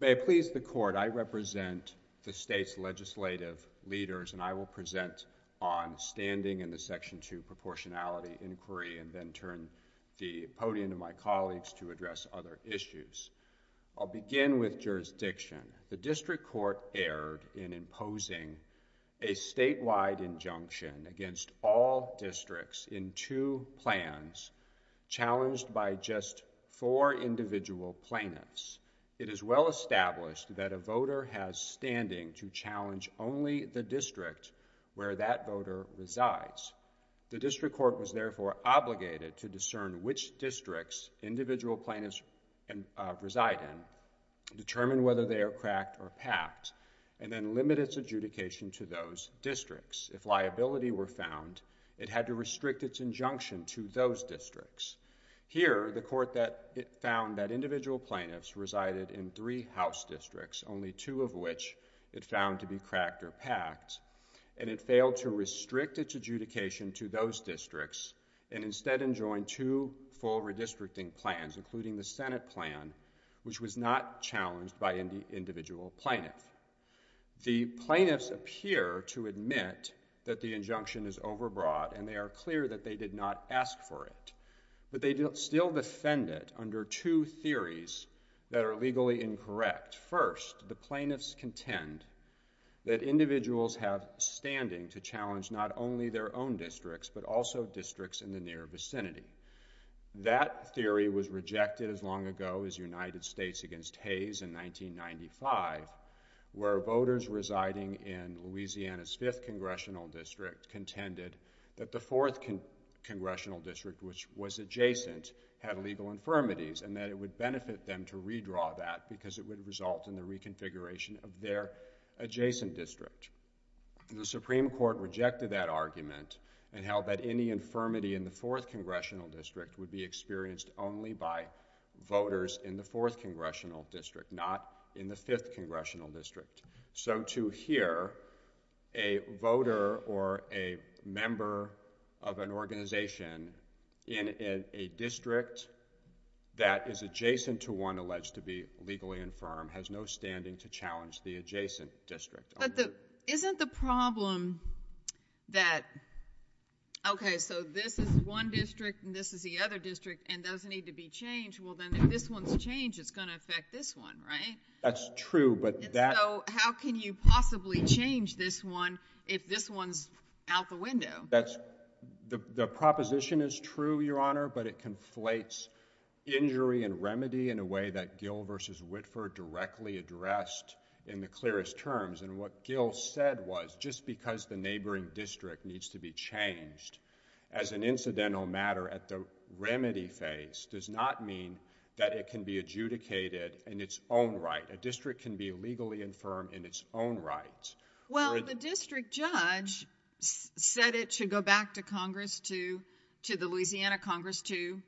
May I please the Court, I represent the state's legislative leaders and I will present on standing in the Section 2 Proportionality Inquiry and then turn the podium to my colleagues to address other issues. I'll begin with jurisdiction. The District Court erred in imposing a statewide injunction against all districts in two plans challenged by just four individual plaintiffs. It is well established that a voter has standing to challenge only the district where that voter resides. The District Court was therefore obligated to discern which districts individual plaintiffs reside in, determine whether they are cracked or packed, and then limit its adjudication to those districts. If liability were found, it had to restrict its injunction to those districts. Here the Court found that individual plaintiffs resided in three House districts, only two of which it found to be cracked or packed, and it failed to restrict its adjudication to those districts and instead enjoined two full redistricting plans, including the Senate plan, which was not challenged by an individual plaintiff. The plaintiffs appear to admit that the injunction is overbroad and they are clear that they did not ask for it, but they still defend it under two theories that are legally incorrect. First, the plaintiffs contend that individuals have standing to challenge not only their own districts, but also districts in the near vicinity. That theory was rejected as long ago as United States against Hayes in 1995, where voters residing in Louisiana's 5th Congressional District contended that the 4th Congressional District, which was adjacent, had legal infirmities and that it would benefit them to redraw that because it would result in the reconfiguration of their adjacent district. The Supreme Court rejected that argument and held that any infirmity in the 4th Congressional District would be experienced only by voters in the 4th Congressional District, not in the 5th Congressional District. So to hear a voter or a member of an organization in a district that is adjacent to one alleged to be legally infirm has no standing to challenge the adjacent district. But isn't the problem that, okay, so this is one district and this is the other district and those need to be changed. Well, then if this one's changed, it's going to affect this one, right? That's true. So how can you possibly change this one if this one's out the window? The proposition is true, Your Honor, but it conflates injury and remedy in a way that Gill v. Whitford directly addressed in the clearest terms. And what Gill said was just because the neighboring district needs to be changed as an incidental matter at the remedy phase does not mean that it can be adjudicated in its own right. A district can be legally infirm in its own right. Well, the district judge said it should go back to Congress to, to the Louisiana Congress to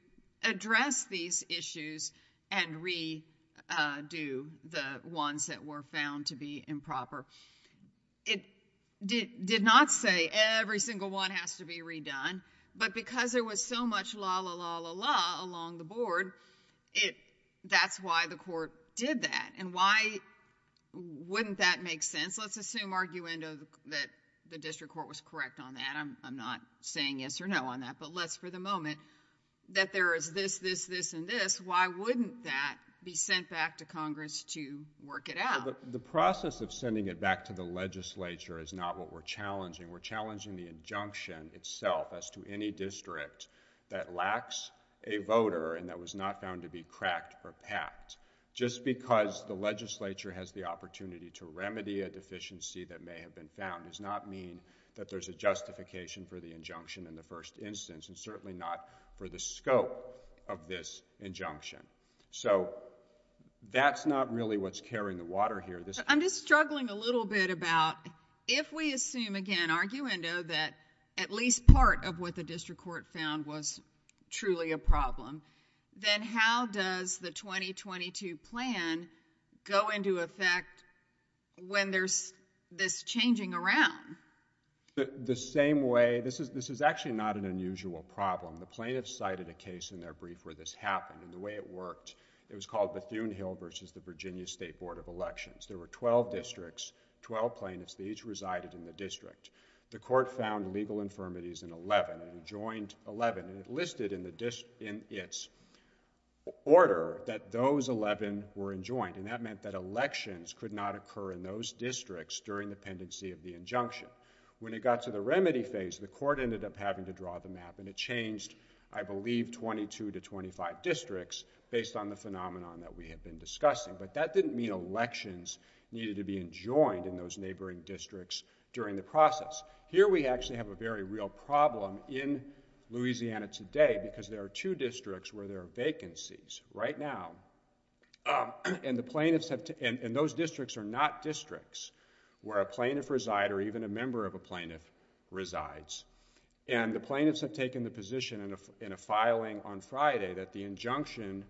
address these issues and redo the ones that were found to be improper. It did not say every single one has to be redone. But because there was so much la-la-la-la-la along the board, it, that's why the court did that. And why wouldn't that make sense? Let's assume, arguendo, that the district court was correct on that. I'm not saying yes or no on that, but let's, for the moment, that there is this, this, this and this, why wouldn't that be sent back to Congress to work it out? The process of sending it back to the legislature is not what we're challenging. We're challenging the injunction itself as to any district that lacks a voter and that was not found to be cracked or packed. Just because the legislature has the opportunity to remedy a deficiency that may have been found does not mean that there's a justification for the injunction in the first instance and certainly not for the scope of this injunction. So that's not really what's carrying the water here. I'm just struggling a little bit about, if we assume again, arguendo, that at least part of what the district court found was truly a problem, then how does the 2022 plan go into effect when there's this changing around? The same way, this is, this is actually not an unusual problem. The plaintiffs cited a case in their brief where this happened and the way it worked, it was called Bethune Hill versus the Virginia State Board of Elections. There were twelve districts, twelve plaintiffs, they each resided in the district. The court found legal infirmities in eleven and joined eleven and it listed in its order that those eleven were enjoined and that meant that elections could not occur in those districts during the pendency of the injunction. When it got to the remedy phase, the court ended up having to draw the map and it changed, I believe, 22 to 25 districts based on the phenomenon that we had been discussing. But that didn't mean elections needed to be enjoined in those neighboring districts during the process. Here we actually have a very real problem in Louisiana today because there are two districts where there are vacancies right now and the plaintiffs have to, and those districts are not districts where a plaintiff reside or even a member of a plaintiff resides. And the plaintiffs have taken the position in a filing on Friday that the injunction,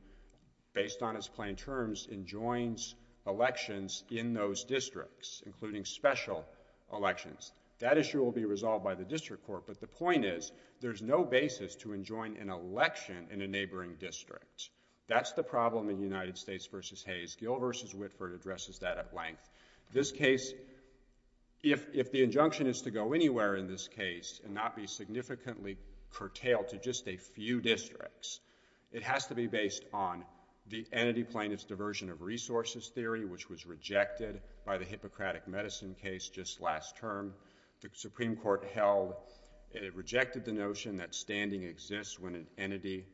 based on its plain terms, enjoins elections in those districts, including special elections. That issue will be resolved by the district court, but the point is, there's no basis to enjoin an election in a neighboring district. That's the problem in United States v. Hayes. Gill v. Whitford addresses that at length. This case, if the injunction is to go anywhere in this case and not be significantly curtailed to just a few districts, it has to be based on the entity plaintiff's diversion of resources theory, which was rejected by the Hippocratic Medicine case just last term. The Supreme Court held, it rejected the notion that standing exists when an entity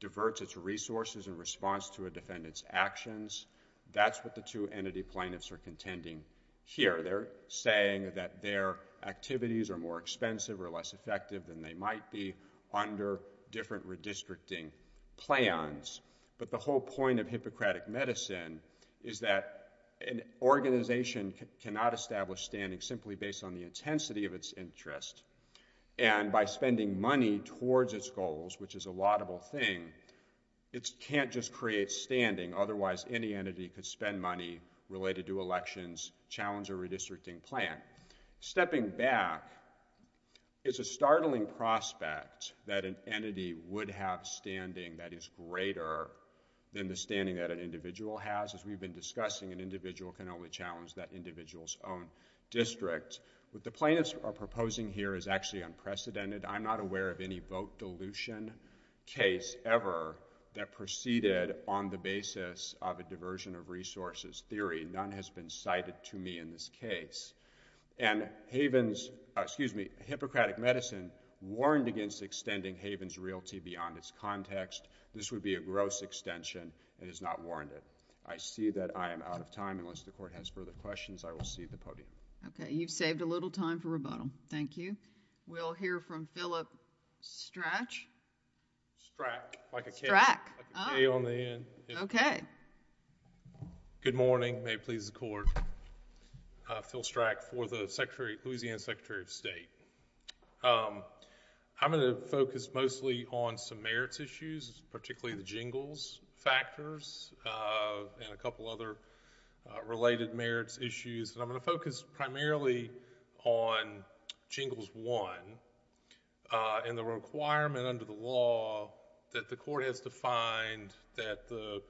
diverts its resources in response to a defendant's actions. That's what the two entity plaintiffs are contending here. They're saying that their activities are more expensive or less effective than they might be under different redistricting plans. But the whole point of Hippocratic Medicine is that an organization cannot establish standing simply based on the intensity of its interest. And by spending money towards its goals, which is a laudable thing, it can't just create standing. Otherwise, any entity could spend money related to elections, challenge a redistricting plan. Stepping back, it's a startling prospect that an entity would have standing that is greater than the standing that an individual has. As we've been discussing, an individual can only challenge that individual's own district. What the plaintiffs are proposing here is actually unprecedented. I'm not aware of any vote dilution case ever that proceeded on the basis of a diversion of resources theory. None has been cited to me in this case. And Haven's, excuse me, Hippocratic Medicine warned against extending Haven's Realty beyond its context. This would be a gross extension and has not warned it. I see that I am out of time. Unless the Court has further questions, I will cede the podium. Okay. You've saved a little time for rebuttal. Thank you. We'll hear from Philip Strach. Strach. Like a K. Strach. Oh. Like a K on the end. Okay. Good morning. Good morning. May it please the Court. Phil Strach for the Louisiana Secretary of State. I'm going to focus mostly on some merits issues, particularly the jingles factors and a couple other related merits issues. And I'm going to focus primarily on jingles one and the requirement under the law that the Court has defined that the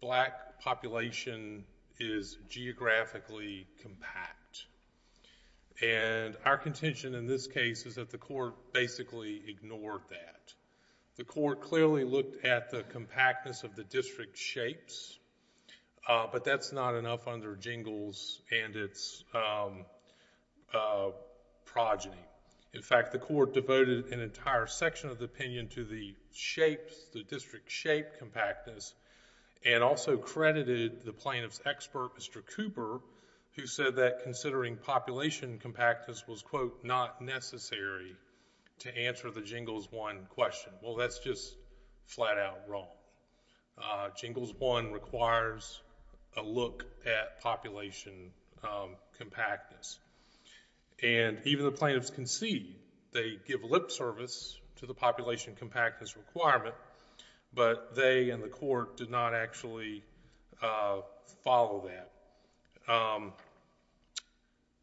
black population is geographically compact. And our contention in this case is that the Court basically ignored that. The Court clearly looked at the compactness of the district shapes, but that's not enough under jingles and its progeny. In fact, the Court devoted an entire section of the opinion to the shapes, the district shape compactness, and also credited the plaintiff's expert, Mr. Cooper, who said that considering population compactness was, quote, not necessary to answer the jingles one question. Well, that's just flat out wrong. Jingles one requires a look at population compactness. And even the plaintiffs concede, they give lip service to the population compactness requirement, but they and the Court did not actually follow that.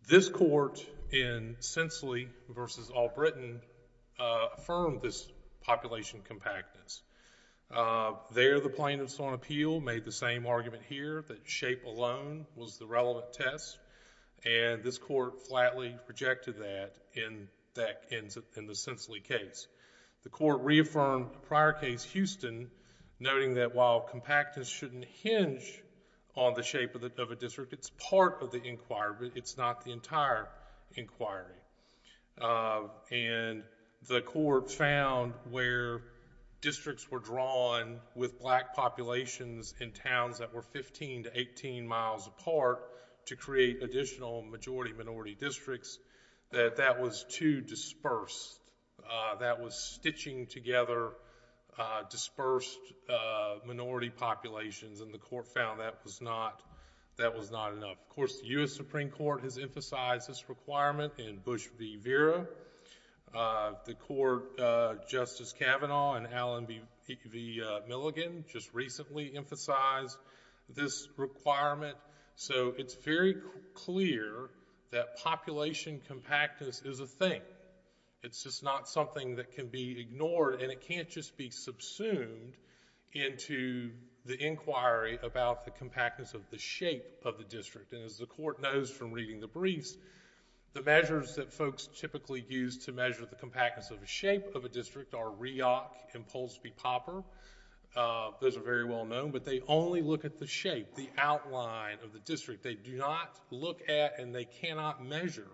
This Court in Sensely v. Albritton affirmed this population compactness. There, the plaintiffs on appeal made the same argument here that shape alone was the relevant test, and this Court flatly rejected that in the Sensely case. The Court reaffirmed prior case Houston, noting that while compactness shouldn't hinge on the shape of a district, it's part of the inquiry, but it's not the entire inquiry. And the Court found where districts were drawn with black populations in towns that were 15 to 18 miles apart to create additional majority-minority districts, that that was too dispersed. That was stitching together dispersed minority populations, and the Court found that was not enough. Of course, the U.S. Supreme Court has emphasized this requirement in Bush v. Vera. The Court, Justice Kavanaugh and Alan v. Milligan, just recently emphasized this requirement. So it's very clear that population compactness is a thing. It's just not something that can be ignored, and it can't just be subsumed into the inquiry about the compactness of the shape of the district. As the Court knows from reading the briefs, the measures that folks typically use to measure the compactness of the shape of a district are REAC and Polsby-Popper. Those are very well known, but they only look at the shape, the outline of the district. They do not look at and they cannot measure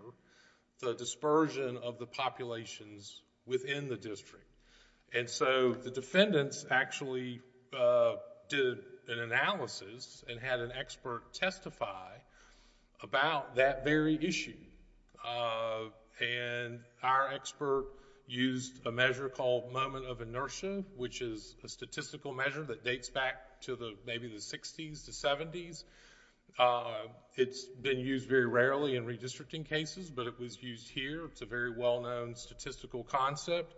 the dispersion of the populations within the district. The defendants actually did an analysis and had an expert testify about that very issue. Our expert used a measure called moment of inertia, which is a statistical measure that dates back to maybe the 60s to 70s. It's been used very rarely in redistricting cases, but it was used here. It's a very well-known statistical concept,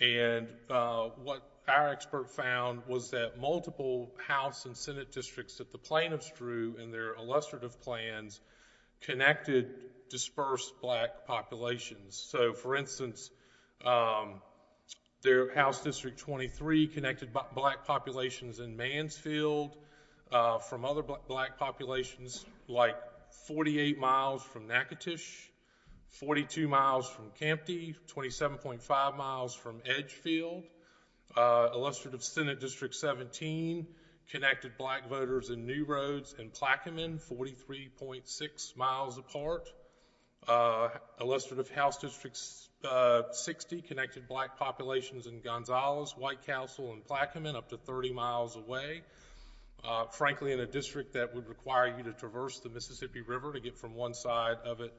and what our expert found was that multiple House and Senate districts that the plaintiffs drew in their illustrative plans connected dispersed black populations. So for instance, their House District 23 connected black populations in Mansfield from other black populations like 48 miles from Natchitoches, 42 miles from Campde, 27.5 miles from Edgefield. Illustrative Senate District 17 connected black voters in New Roads and Plaquemine, 43.6 miles apart. Illustrative House District 60 connected black populations in Gonzalez, White Council, and Plaquemine, up to 30 miles away. Frankly, in a district that would require you to traverse the Mississippi River to get from one side of it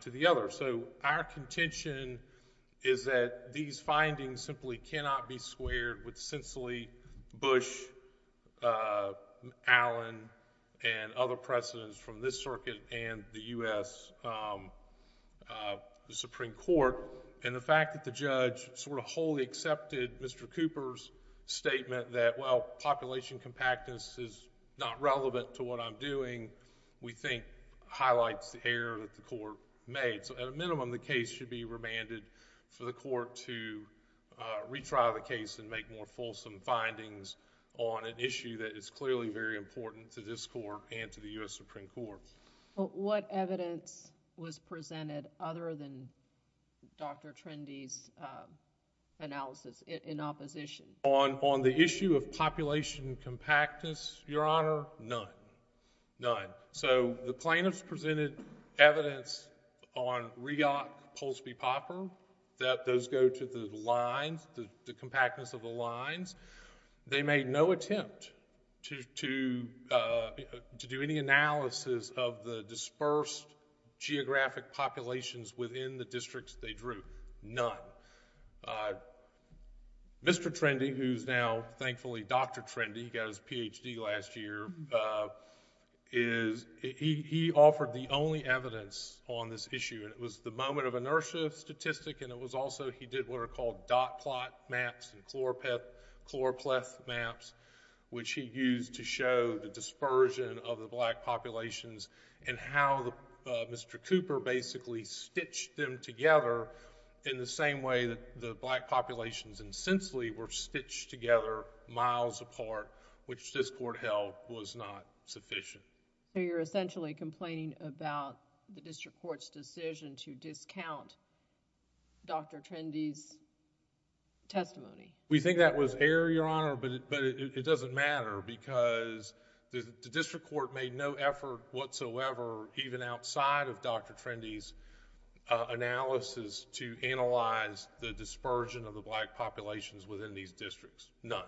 to the other. Our contention is that these findings simply cannot be squared with sensibly Bush, Allen, and other precedents from this circuit and the U.S. Supreme Court, and the fact that the judge sort of wholly accepted Mr. Cooper's statement that, well, population compactness is not relevant to what I'm doing, we think highlights the error that the court made. So at a minimum, the case should be remanded for the court to retry the case and make more fulsome findings on an issue that is clearly very important to this court and to the U.S. Supreme Court. What evidence was presented other than Dr. Trendy's analysis in opposition? On the issue of population compactness, Your Honor, none. None. So the plaintiffs presented evidence on REOC, Poulsby, Popper, that those go to the lines, the compactness of the lines. They made no attempt to do any analysis of the dispersed geographic populations within the districts they drew, none. Mr. Trendy, who's now thankfully Dr. Trendy, he got his Ph.D. last year, he offered the only evidence on this issue, and it was the moment of inertia of statistic, and it was also, he did what are called dot plot maps and chloropleth maps, which he used to show the dispersion of the black populations and how Mr. Cooper basically stitched them together in the same way that the black populations and sensely were stitched together miles apart, which this court held was not sufficient. So you're essentially complaining about the district court's decision to discount Dr. Trendy's testimony? We think that was error, Your Honor, but it doesn't matter because the district court made no effort whatsoever even outside of Dr. Trendy's analysis to analyze the dispersion of the black populations within these districts, none.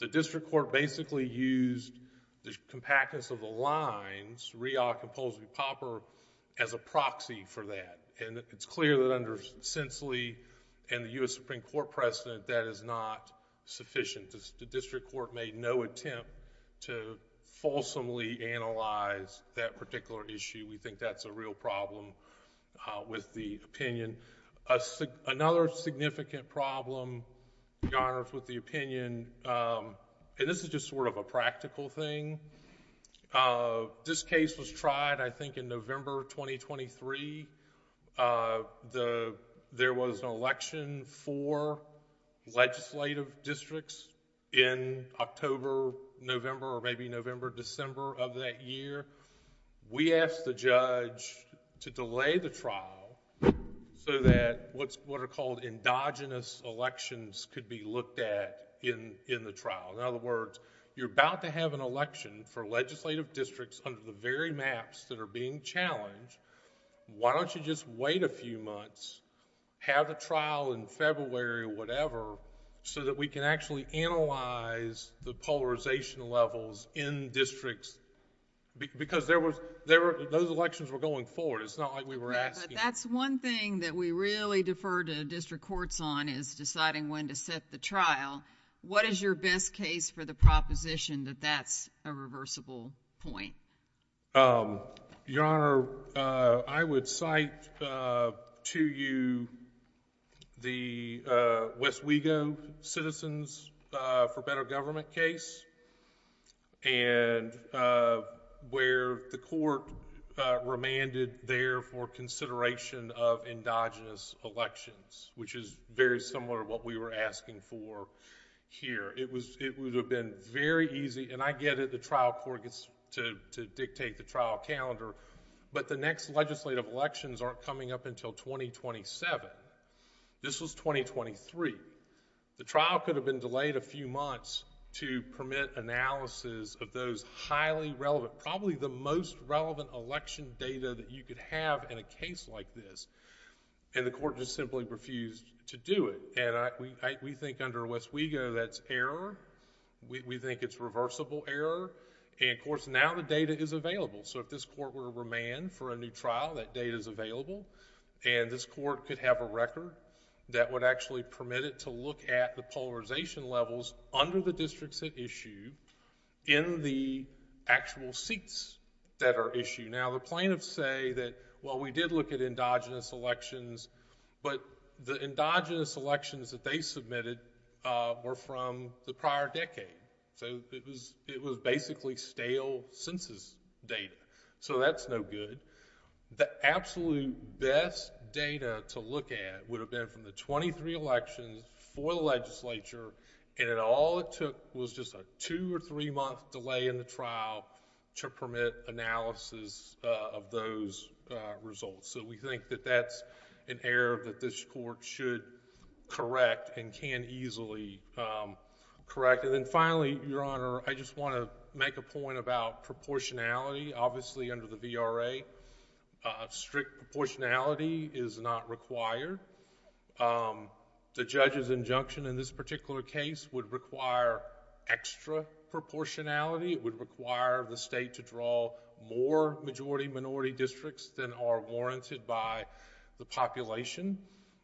The district court basically used the compactness of the lines, Riach and Polsby-Popper, as a proxy for that, and it's clear that under Sensely and the U.S. Supreme Court precedent that is not sufficient. The district court made no attempt to fulsomely analyze that particular issue. We think that's a real problem with the opinion. Another significant problem, Your Honors, with the opinion, and this is just sort of a practical thing, this case was tried, I think, in November 2023. There was an election for legislative districts in October, November or maybe November, December of that year. We asked the judge to delay the trial so that what are called endogenous elections could be looked at in the trial. In other words, you're about to have an election for legislative districts under the very maps that are being challenged, why don't you just wait a few months, have a trial in February or whatever, so that we can actually analyze the polarization levels in districts, because those elections were going forward. It's not like we were asking... Yeah, but that's one thing that we really defer to district courts on is deciding when to set the trial. What is your best case for the proposition that that's a reversible point? Your Honor, I would cite to you the West Wego Citizens for Better Government case, where the court remanded there for consideration of endogenous elections, which is very similar to what we were asking for here. It would have been very easy, and I get it, the trial court gets to dictate the trial calendar, but the next legislative elections aren't coming up until 2027. This was 2023. The trial could have been delayed a few months to permit analysis of those highly relevant, probably the most relevant election data that you could have in a case like this, and the court just simply refused to do it. We think under West Wego that's error. We think it's reversible error, and of course, now the data is available. If this court were to remand for a new trial, that data is available, and this court could have a record that would actually permit it to look at the polarization levels under the districts at issue in the actual seats that are issued. Now, the plaintiffs say that, well, we did look at endogenous elections, but the endogenous elections that they submitted were from the prior decade, so it was basically stale census data, so that's no good. The absolute best data to look at would have been from the 23 elections for the legislature, and all it took was just a two or three month delay in the trial to permit analysis of those results. We think that that's an error that this court should correct and can easily correct. Then finally, Your Honor, I just want to make a point about proportionality. Obviously, under the VRA, strict proportionality is not required. The judge's injunction in this particular case would require extra proportionality. It would require the state to draw more majority-minority districts than are warranted by the population.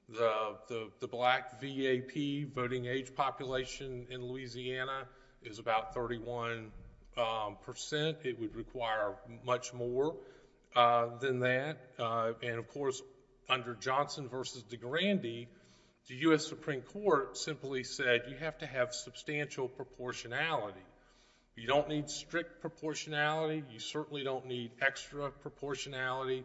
The black VAP voting age population in Louisiana is about 31%. It would require much more than that, and of course, under Johnson v. DeGrande, the U.S. Supreme Court simply said you have to have substantial proportionality. You don't need strict proportionality. You certainly don't need extra proportionality.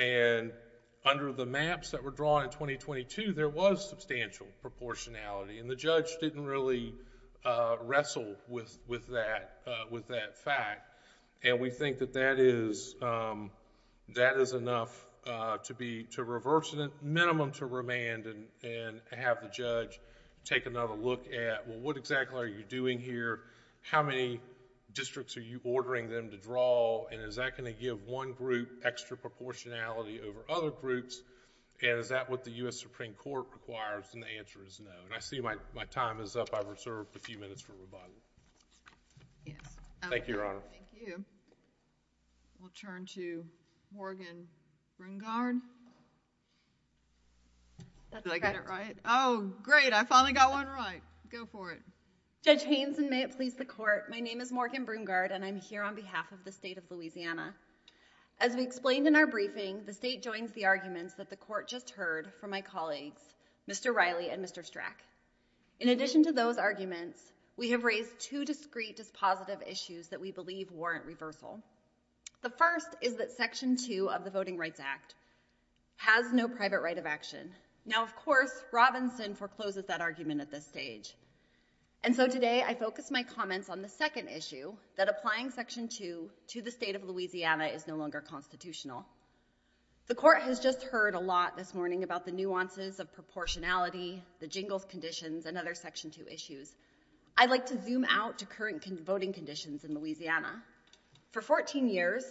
Under the maps that were drawn in 2022, there was substantial proportionality, and the judge didn't really wrestle with that fact. We think that that is enough to reverse the minimum to remand and have the judge take another look at, well, what exactly are you doing here? How many districts are you ordering them to draw, and is that going to give one group extra proportionality over other groups, and is that what the U.S. Supreme Court requires? The answer is no. I see my time is up. I've reserved a few minutes for rebuttal. Thank you, Your Honor. Thank you. We'll turn to Morgan Brungard. Did I get it right? Oh, great. I finally got one right. Go for it. Judge Haynes, and may it please the court, my name is Morgan Brungard, and I'm here on behalf of the state of Louisiana. As we explained in our briefing, the state joins the arguments that the court just heard from my colleagues, Mr. Riley and Mr. Strack. In addition to those arguments, we have raised two discreet, dispositive issues that we believe warrant reversal. The first is that Section 2 of the Voting Rights Act has no private right of action. Now, of course, Robinson forecloses that argument at this stage. And so today, I focus my comments on the second issue, that applying Section 2 to the state of Louisiana is no longer constitutional. The court has just heard a lot this morning about the nuances of proportionality, the jingles conditions, and other Section 2 issues. I'd like to zoom out to current voting conditions in Louisiana. For 14 years,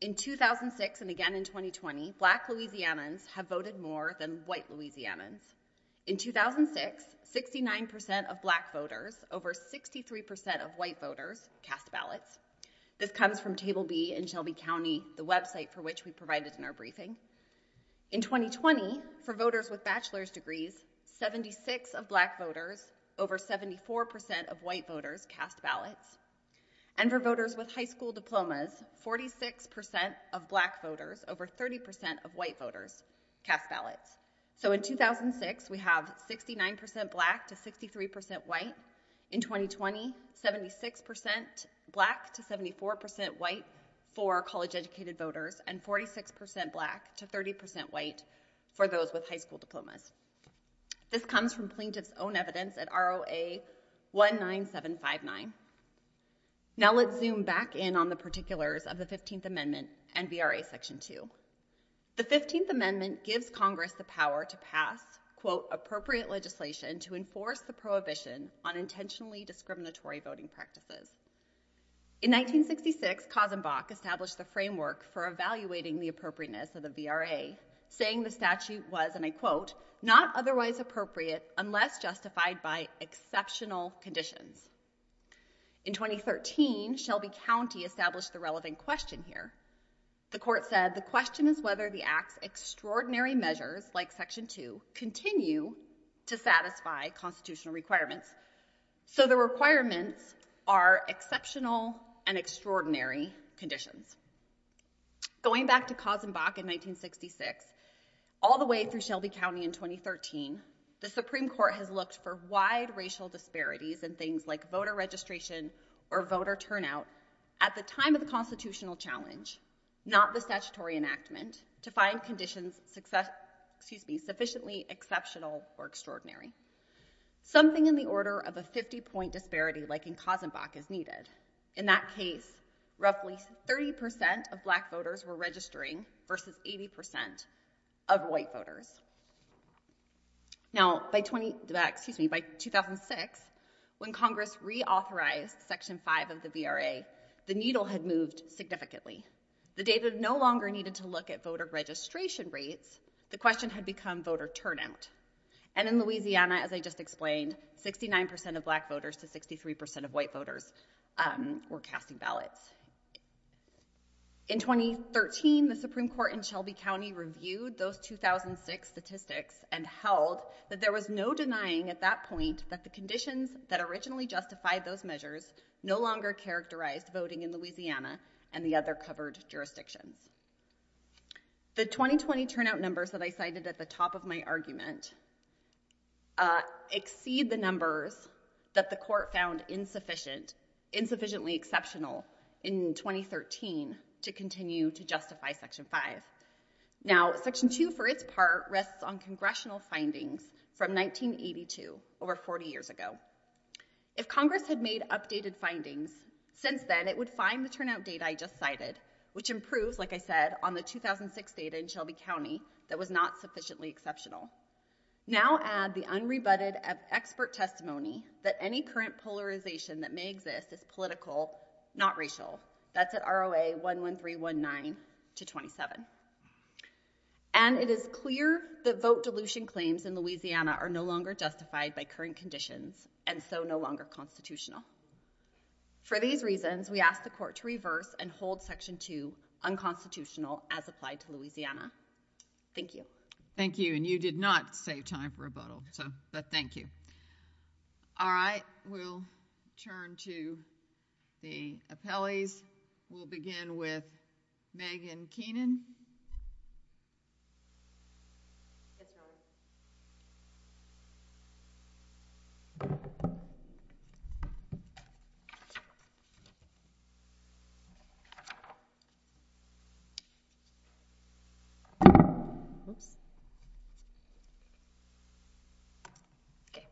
in 2006 and again in 2020, black Louisianans have voted more than white Louisianans. In 2006, 69% of black voters over 63% of white voters cast ballots. This comes from Table B in Shelby County, the website for which we provided in our briefing. In 2020, for voters with bachelor's degrees, 76 of black voters over 74% of white voters cast ballots. And for voters with high school diplomas, 46% of black voters over 30% of white voters cast ballots. So, in 2006, we have 69% black to 63% white. In 2020, 76% black to 74% white for college-educated voters and 46% black to 30% white for those with high school diplomas. This comes from plaintiff's own evidence at ROA-19759. Now let's zoom back in on the particulars of the 15th Amendment and VRA Section 2. The 15th Amendment gives Congress the power to pass, quote, appropriate legislation to enforce the prohibition on intentionally discriminatory voting practices. In 1966, Kozenbach established the framework for evaluating the appropriateness of the not otherwise appropriate unless justified by exceptional conditions. In 2013, Shelby County established the relevant question here. The court said the question is whether the act's extraordinary measures, like Section 2, continue to satisfy constitutional requirements. So the requirements are exceptional and extraordinary conditions. Going back to Kozenbach in 1966, all the way through Shelby County in 2013, the Supreme Court has looked for wide racial disparities in things like voter registration or voter turnout at the time of the constitutional challenge, not the statutory enactment, to find conditions sufficiently exceptional or extraordinary. Something in the order of a 50-point disparity like in Kozenbach is needed. In that case, roughly 30 percent of black voters were registering versus 80 percent of white voters. Now by 2006, when Congress reauthorized Section 5 of the VRA, the needle had moved significantly. The data no longer needed to look at voter registration rates. The question had become voter turnout, and in Louisiana, as I just explained, 69 percent of black voters to 63 percent of white voters were casting ballots. In 2013, the Supreme Court in Shelby County reviewed those 2006 statistics and held that there was no denying at that point that the conditions that originally justified those measures no longer characterized voting in Louisiana and the other covered jurisdictions. The 2020 turnout numbers that I cited at the top of my argument exceed the numbers that the court found insufficient, insufficiently exceptional in 2013 to continue to justify Section 5. Now, Section 2, for its part, rests on congressional findings from 1982, over 40 years ago. If Congress had made updated findings since then, it would find the turnout data I just used, like I said, on the 2006 data in Shelby County that was not sufficiently exceptional. Now add the unrebutted expert testimony that any current polarization that may exist is political, not racial. That's at ROA 11319 to 27. And it is clear that vote dilution claims in Louisiana are no longer justified by current conditions and so no longer constitutional. For these reasons, we ask the court to reverse and hold Section 2 unconstitutional as applied to Louisiana. Thank you. Thank you. And you did not save time for rebuttal, but thank you. All right, we'll turn to the appellees. We'll begin with Megan Keenan. Yes, Your Honor. Oops. Okay.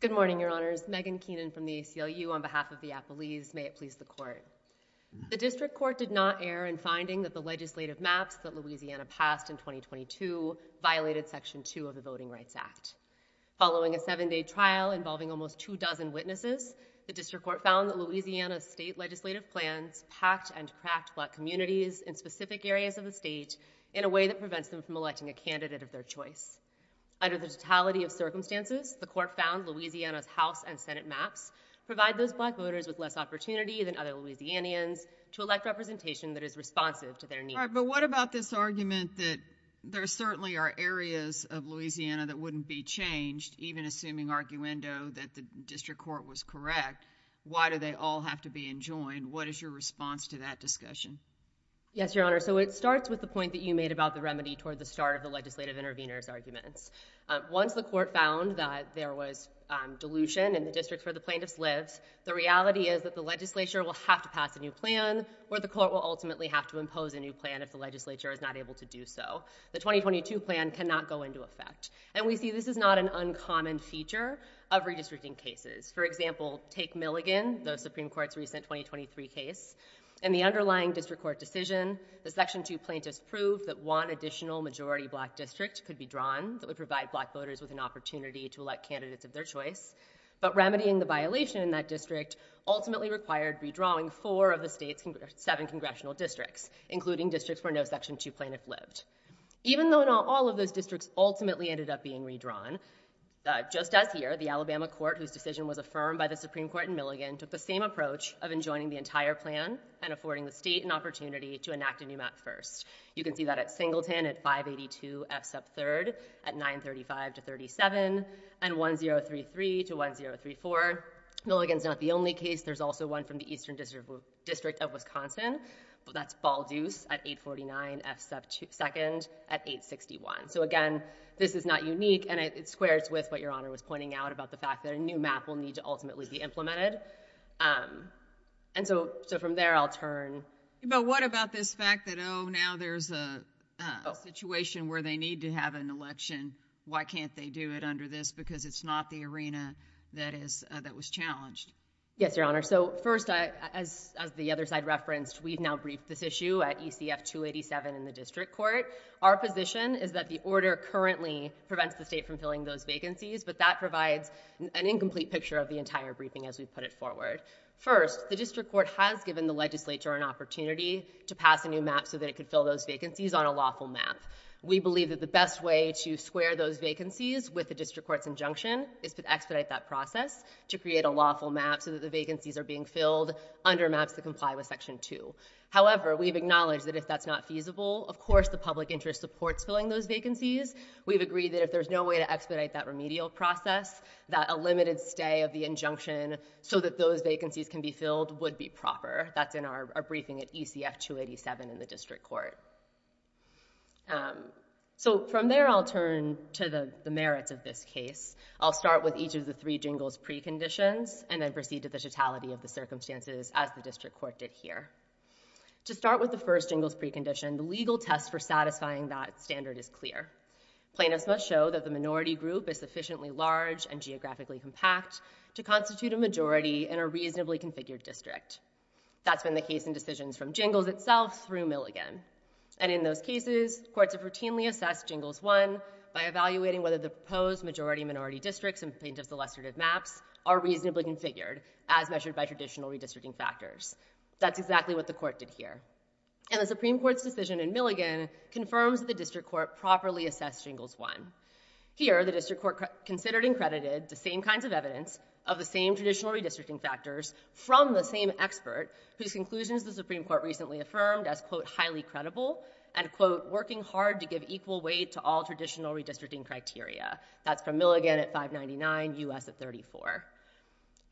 Good morning, Your Honors. Megan Keenan from the ACLU on behalf of the appellees. May it please the court. The district court did not err in finding that the legislative maps that Louisiana passed in 2022 violated Section 2 of the Voting Rights Act. Following a seven-day trial involving almost two dozen witnesses, the district court found that Louisiana's state legislative plans packed and cracked black communities in specific areas of the state in a way that prevents them from electing a candidate of their choice. Under the totality of circumstances, the court found Louisiana's House and Senate maps provide those black voters with less opportunity than other Louisianians to elect representation that is responsive to their needs. All right, but what about this argument that there certainly are areas of Louisiana that wouldn't be changed, even assuming arguendo that the district court was correct? Why do they all have to be enjoined? What is your response to that discussion? Yes, Your Honor. So it starts with the point that you made about the remedy toward the start of the legislative intervener's arguments. Once the court found that there was dilution in the district where the plaintiffs lived, the reality is that the legislature will have to pass a new plan, or the court will ultimately have to impose a new plan if the legislature is not able to do so. The 2022 plan cannot go into effect. And we see this is not an uncommon feature of redistricting cases. For example, take Milligan, the Supreme Court's recent 2023 case. In the underlying district court decision, the Section 2 plaintiffs proved that one could provide black voters with an opportunity to elect candidates of their choice, but remedying the violation in that district ultimately required redrawing four of the state's seven congressional districts, including districts where no Section 2 plaintiff lived. Even though not all of those districts ultimately ended up being redrawn, just as here, the Alabama court, whose decision was affirmed by the Supreme Court in Milligan, took the same approach of enjoining the entire plan and affording the state an opportunity to enact a new map first. You can see that at Singleton, at 582 F sub 3rd, at 935 to 37, and 1033 to 1034. Milligan's not the only case. There's also one from the Eastern District of Wisconsin. That's Balduce at 849 F sub 2nd, at 861. So again, this is not unique, and it squares with what Your Honor was pointing out about the fact that a new map will need to ultimately be implemented. And so from there, I'll turn. But what about this fact that, oh, now there's a situation where they need to have an election. Why can't they do it under this? Because it's not the arena that was challenged. Yes, Your Honor. So first, as the other side referenced, we've now briefed this issue at ECF 287 in the district court. Our position is that the order currently prevents the state from filling those vacancies, but that provides an incomplete picture of the entire briefing as we put it forward. First, the district court has given the legislature an opportunity to pass a new map so that it could fill those vacancies on a lawful map. We believe that the best way to square those vacancies with the district court's injunction is to expedite that process to create a lawful map so that the vacancies are being filled under maps that comply with Section 2. However, we've acknowledged that if that's not feasible, of course, the public interest supports filling those vacancies. We've agreed that if there's no way to expedite that remedial process, that a limited stay of the injunction so that those vacancies can be filled would be proper. That's in our briefing at ECF 287 in the district court. From there, I'll turn to the merits of this case. I'll start with each of the three jingles preconditions and then proceed to the totality of the circumstances as the district court did here. To start with the first jingles precondition, the legal test for satisfying that standard is clear. Plaintiffs must show that the minority group is sufficiently large and geographically compact to constitute a majority in a reasonably configured district. That's been the case in decisions from Jingles itself through Milligan. And in those cases, courts have routinely assessed Jingles 1 by evaluating whether the proposed majority-minority districts in plaintiff's illustrative maps are reasonably configured as measured by traditional redistricting factors. That's exactly what the court did here. And the Supreme Court's decision in Milligan confirms the district court properly assessed Jingles 1. Here, the district court considered and credited the same kinds of evidence of the same traditional redistricting factors from the same expert whose conclusions the Supreme Court recently affirmed as, quote, highly credible and, quote, working hard to give equal weight to all traditional redistricting criteria. That's from Milligan at 599, U.S. at 34.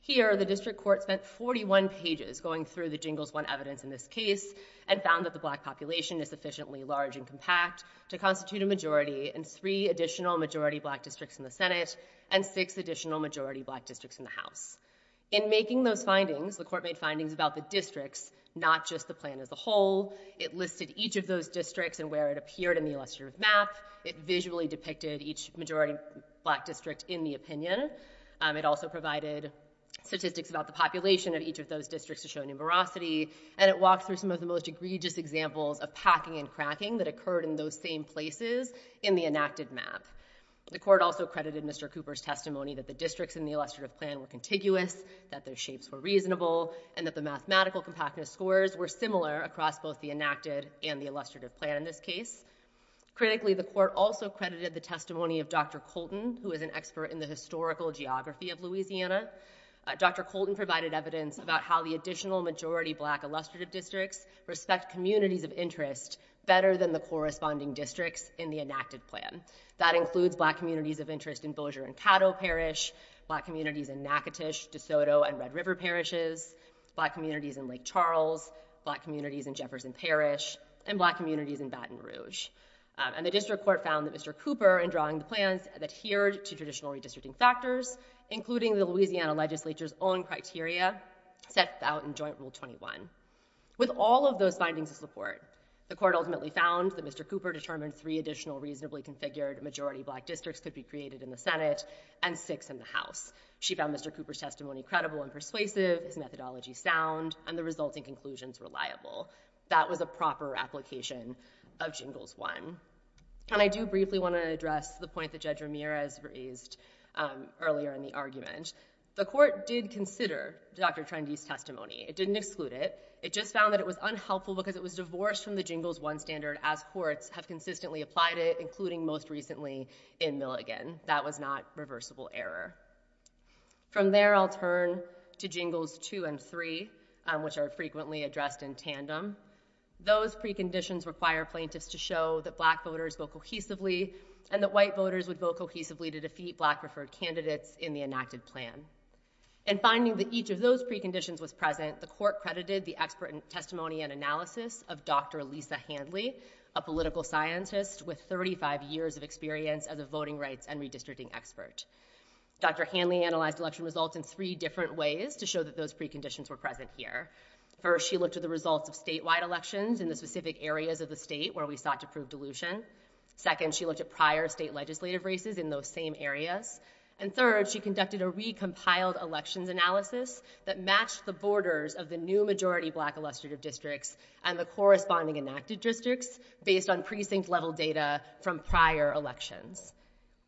Here, the district court spent 41 pages going through the Jingles 1 evidence in this case and found that the black population is sufficiently large and compact to constitute a majority in three additional majority black districts in the Senate and six additional majority black districts in the House. In making those findings, the court made findings about the districts, not just the plan as a whole. It listed each of those districts and where it appeared in the illustrative map. It visually depicted each majority black district in the opinion. It also provided statistics about the population of each of those districts to show numerosity. And it walked through some of the most egregious examples of packing and cracking that occurred in those same places in the enacted map. The court also credited Mr. Cooper's testimony that the districts in the illustrative plan were contiguous, that their shapes were reasonable, and that the mathematical compactness scores were similar across both the enacted and the illustrative plan in this case. Critically, the court also credited the testimony of Dr. Colton, who is an expert in the historic geography of Louisiana. Dr. Colton provided evidence about how the additional majority black illustrative districts respect communities of interest better than the corresponding districts in the enacted plan. That includes black communities of interest in Bossier and Caddo Parish, black communities in Natchitoches, DeSoto, and Red River Parishes, black communities in Lake Charles, black communities in Jefferson Parish, and black communities in Baton Rouge. And the district court found that Mr. Cooper, in drawing the plans, adhered to traditional redistricting factors, including the Louisiana legislature's own criteria set out in Joint Rule 21. With all of those findings of support, the court ultimately found that Mr. Cooper determined three additional reasonably configured majority black districts could be created in the Senate and six in the House. She found Mr. Cooper's testimony credible and persuasive, his methodology sound, and the resulting conclusions reliable. That was a proper application of Jingles 1. And I do briefly want to address the point that Judge Ramirez raised earlier in the argument. The court did consider Dr. Trendy's testimony. It didn't exclude it. It just found that it was unhelpful because it was divorced from the Jingles 1 standard as courts have consistently applied it, including most recently in Milligan. That was not reversible error. From there, I'll turn to Jingles 2 and 3, which are frequently addressed in tandem. Those preconditions require plaintiffs to show that black voters vote cohesively and that white voters would vote cohesively to defeat black preferred candidates in the enacted plan. In finding that each of those preconditions was present, the court credited the expert in testimony and analysis of Dr. Lisa Hanley, a political scientist with 35 years of experience as a voting rights and redistricting expert. Dr. Hanley analyzed election results in three different ways to show that those preconditions were present here. First, she looked at the results of statewide elections in the specific areas of the state where we sought to prove dilution. Second, she looked at prior state legislative races in those same areas. And third, she conducted a recompiled elections analysis that matched the borders of the new majority black illustrative districts and the corresponding enacted districts based on precinct-level data from prior elections.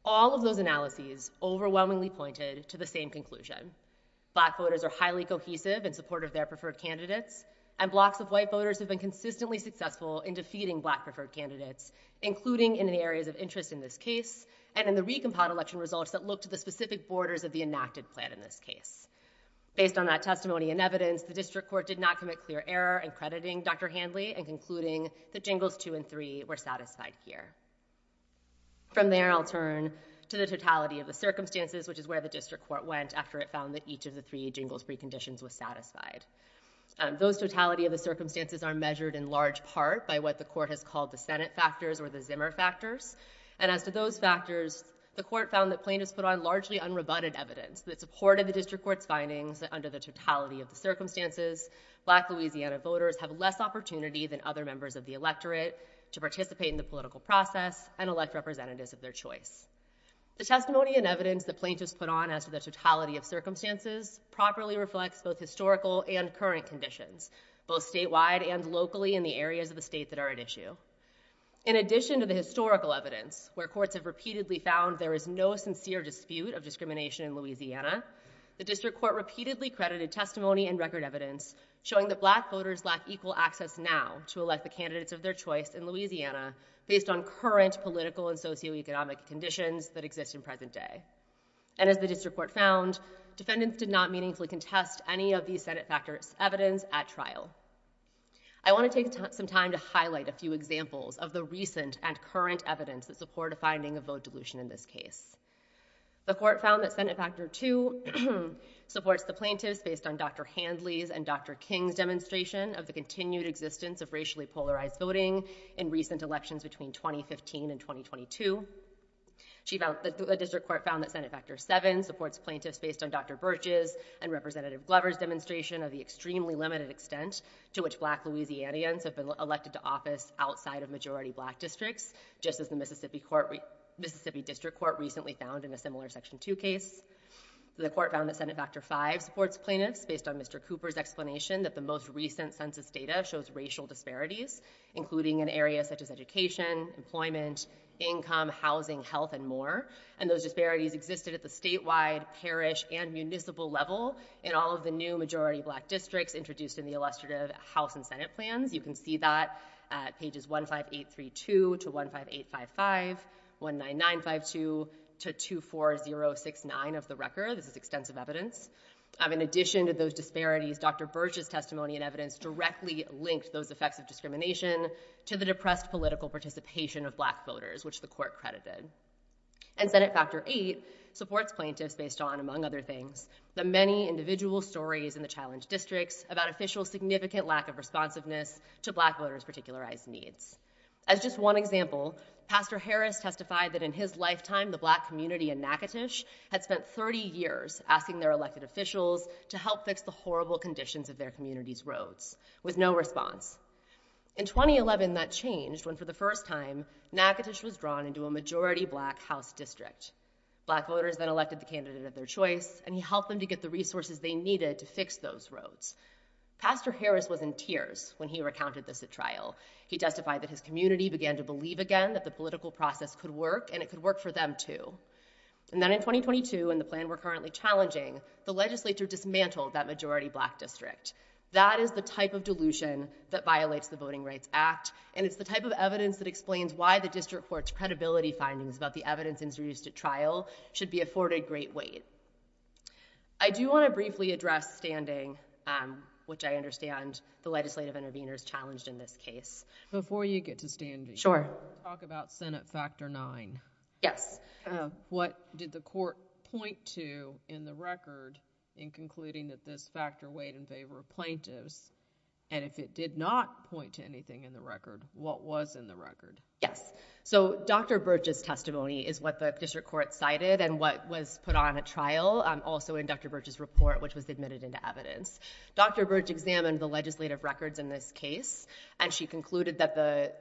All of those analyses overwhelmingly pointed to the same conclusion. Black voters are highly cohesive in support of their preferred candidates and blocks of white voters have been consistently successful in defeating black preferred candidates, including in the areas of interest in this case and in the recompiled election results that look to the specific borders of the enacted plan in this case. Based on that testimony and evidence, the district court did not commit clear error in crediting Dr. Hanley and concluding that jingles two and three were satisfied here. From there, I'll turn to the totality of the circumstances, which is where the district court went after it found that each of the three jingles-free conditions was satisfied. Those totality of the circumstances are measured in large part by what the court has called the Senate factors or the Zimmer factors. And as to those factors, the court found that plaintiffs put on largely unrebutted evidence that supported the district court's findings that under the totality of the circumstances, black Louisiana voters have less opportunity than other members of the electorate to participate in the political process and elect representatives of their choice. The testimony and evidence that plaintiffs put on as to the totality of circumstances properly reflects both historical and current conditions, both statewide and locally in the areas of the state that are at issue. In addition to the historical evidence where courts have repeatedly found there is no sincere dispute of discrimination in Louisiana, the district court repeatedly credited testimony and record evidence showing that black voters lack equal access now to elect the candidates of their choice in Louisiana based on current political and socioeconomic conditions that exist in present day. And as the district court found, defendants did not meaningfully contest any of these Senate factors evidence at trial. I want to take some time to highlight a few examples of the recent and current evidence that support a finding of vote dilution in this case. The court found that Senate factor two supports the plaintiffs based on Dr. Handley's and Dr. King's demonstration of the continued existence of racially polarized voting in recent elections between 2015 and 2022. The district court found that Senate factor seven supports plaintiffs based on Dr. Birch's and Representative Glover's demonstration of the extremely limited extent to which black Louisianians have been elected to office outside of majority black districts, just as the Mississippi District Court recently found in a similar section two case. The court found that Senate factor five supports plaintiffs based on Mr. Cooper's explanation that the most recent census data shows racial disparities, including in areas such as education, employment, income, housing, health, and more. And those disparities existed at the statewide, parish, and municipal level in all of the new majority black districts introduced in the illustrative House and Senate plans. You can see that at pages 15832 to 15855, 19952 to 24069 of the record. This is extensive evidence. In addition to those disparities, Dr. Birch's testimony and evidence directly linked those effects of discrimination to the depressed political participation of black voters, which the court credited. And Senate factor eight supports plaintiffs based on, among other things, the many individual stories in the challenge districts about official significant lack of responsiveness to black voters' particularized needs. As just one example, Pastor Harris testified that in his lifetime, the black community in Natchitoches had spent 30 years asking their elected officials to help fix the horrible conditions of their community's roads, with no response. In 2011, that changed when for the first time, Natchitoches was drawn into a majority black House district. Black voters then elected the candidate of their choice, and he helped them to get the money needed to fix those roads. Pastor Harris was in tears when he recounted this at trial. He testified that his community began to believe again that the political process could work, and it could work for them too. And then in 2022, in the plan we're currently challenging, the legislature dismantled that majority black district. That is the type of dilution that violates the Voting Rights Act, and it's the type of evidence that explains why the district court's credibility findings about the evidence introduced at trial should be afforded great weight. I do want to briefly address standing, which I understand the legislative interveners challenged in this case. Before you get to standing. Sure. Talk about Senate Factor IX. Yes. What did the court point to in the record in concluding that this factor weighed in favor of plaintiffs, and if it did not point to anything in the record, what was in the record? Yes. So Dr. Birch's testimony is what the district court cited and what was put on at trial, also in Dr. Birch's report, which was admitted into evidence. Dr. Birch examined the legislative records in this case, and she concluded that the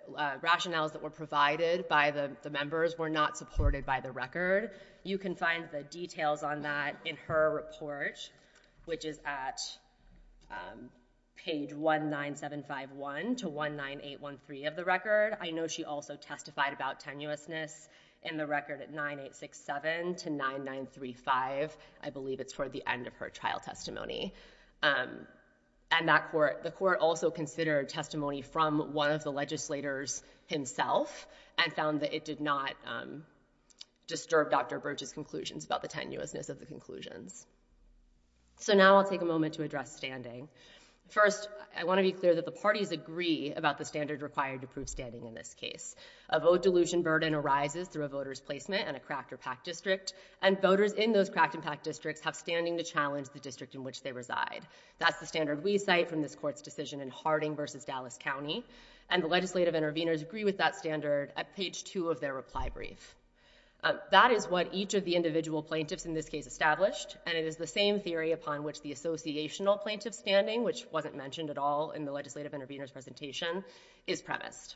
rationales that were provided by the members were not supported by the record. You can find the details on that in her report, which is at page 19751 to 19813 of the record. I know she also testified about tenuousness in the record at 9867 to 9935. I believe it's toward the end of her trial testimony. And the court also considered testimony from one of the legislators himself and found that it did not disturb Dr. Birch's conclusions about the tenuousness of the conclusions. So now I'll take a moment to address standing. First, I want to be clear that the parties agree about the standard required to prove standing in this case. A vote dilution burden arises through a voter's placement in a cracked or packed district, and voters in those cracked and packed districts have standing to challenge the district in which they reside. That's the standard we cite from this court's decision in Harding v. Dallas County, and the legislative interveners agree with that standard at page 2 of their reply brief. That is what each of the individual plaintiffs in this case established, and it is the same theory upon which the associational plaintiff standing, which wasn't mentioned at all in the legislative intervener's presentation, is premised.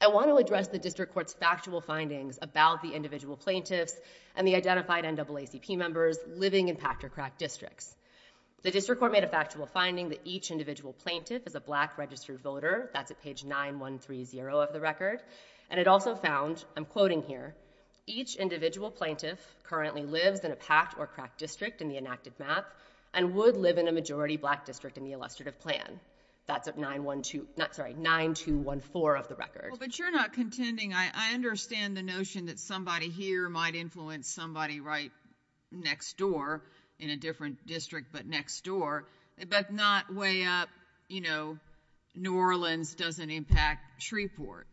I want to address the district court's factual findings about the individual plaintiffs and the identified NAACP members living in packed or cracked districts. The district court made a factual finding that each individual plaintiff is a black registered voter. That's at page 9130 of the record, and it also found, I'm quoting here, each individual plaintiff currently lives in a packed or cracked district in the enacted map and would live in a majority black district in the illustrative plan. That's at 9214 of the record. But you're not contending, I understand the notion that somebody here might influence somebody right next door, in a different district but next door, but not way up, you know, New Orleans doesn't impact Shreveport.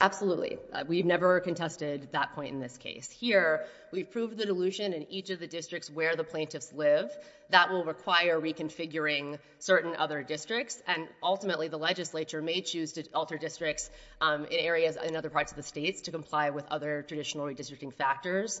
Absolutely. We've never contested that point in this case. Here, we've proved the delusion in each of the districts where the plaintiffs live that will require reconfiguring certain other districts, and ultimately the legislature may choose to alter districts in areas in other parts of the states to comply with other traditional redistricting factors.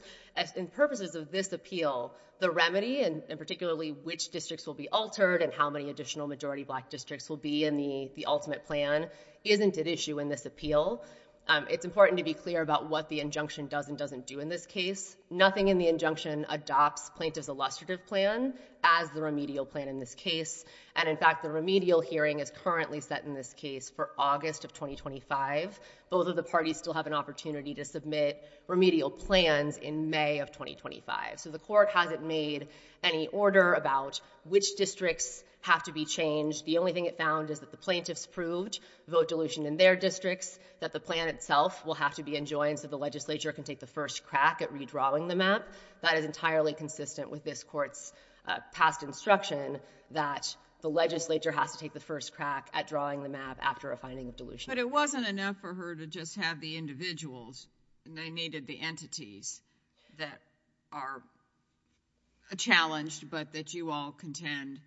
In purposes of this appeal, the remedy, and particularly which districts will be altered and how many additional majority black districts will be in the ultimate plan, isn't at issue in this appeal. It's important to be clear about what the injunction does and doesn't do in this case. Nothing in the injunction adopts plaintiff's illustrative plan as the remedial plan in this case. And in fact, the remedial hearing is currently set in this case for August of 2025. Both of the parties still have an opportunity to submit remedial plans in May of 2025. So the court hasn't made any order about which districts have to be changed. The only thing it found is that the plaintiffs proved vote delusion in their districts, that the plan itself will have to be enjoined so the legislature can take the first crack at redrawing the map. That is entirely consistent with this court's past instruction that the legislature has to take the first crack at drawing the map after a finding of delusion. But it wasn't enough for her to just have the individuals. They needed the entities that are challenged, but that you all contend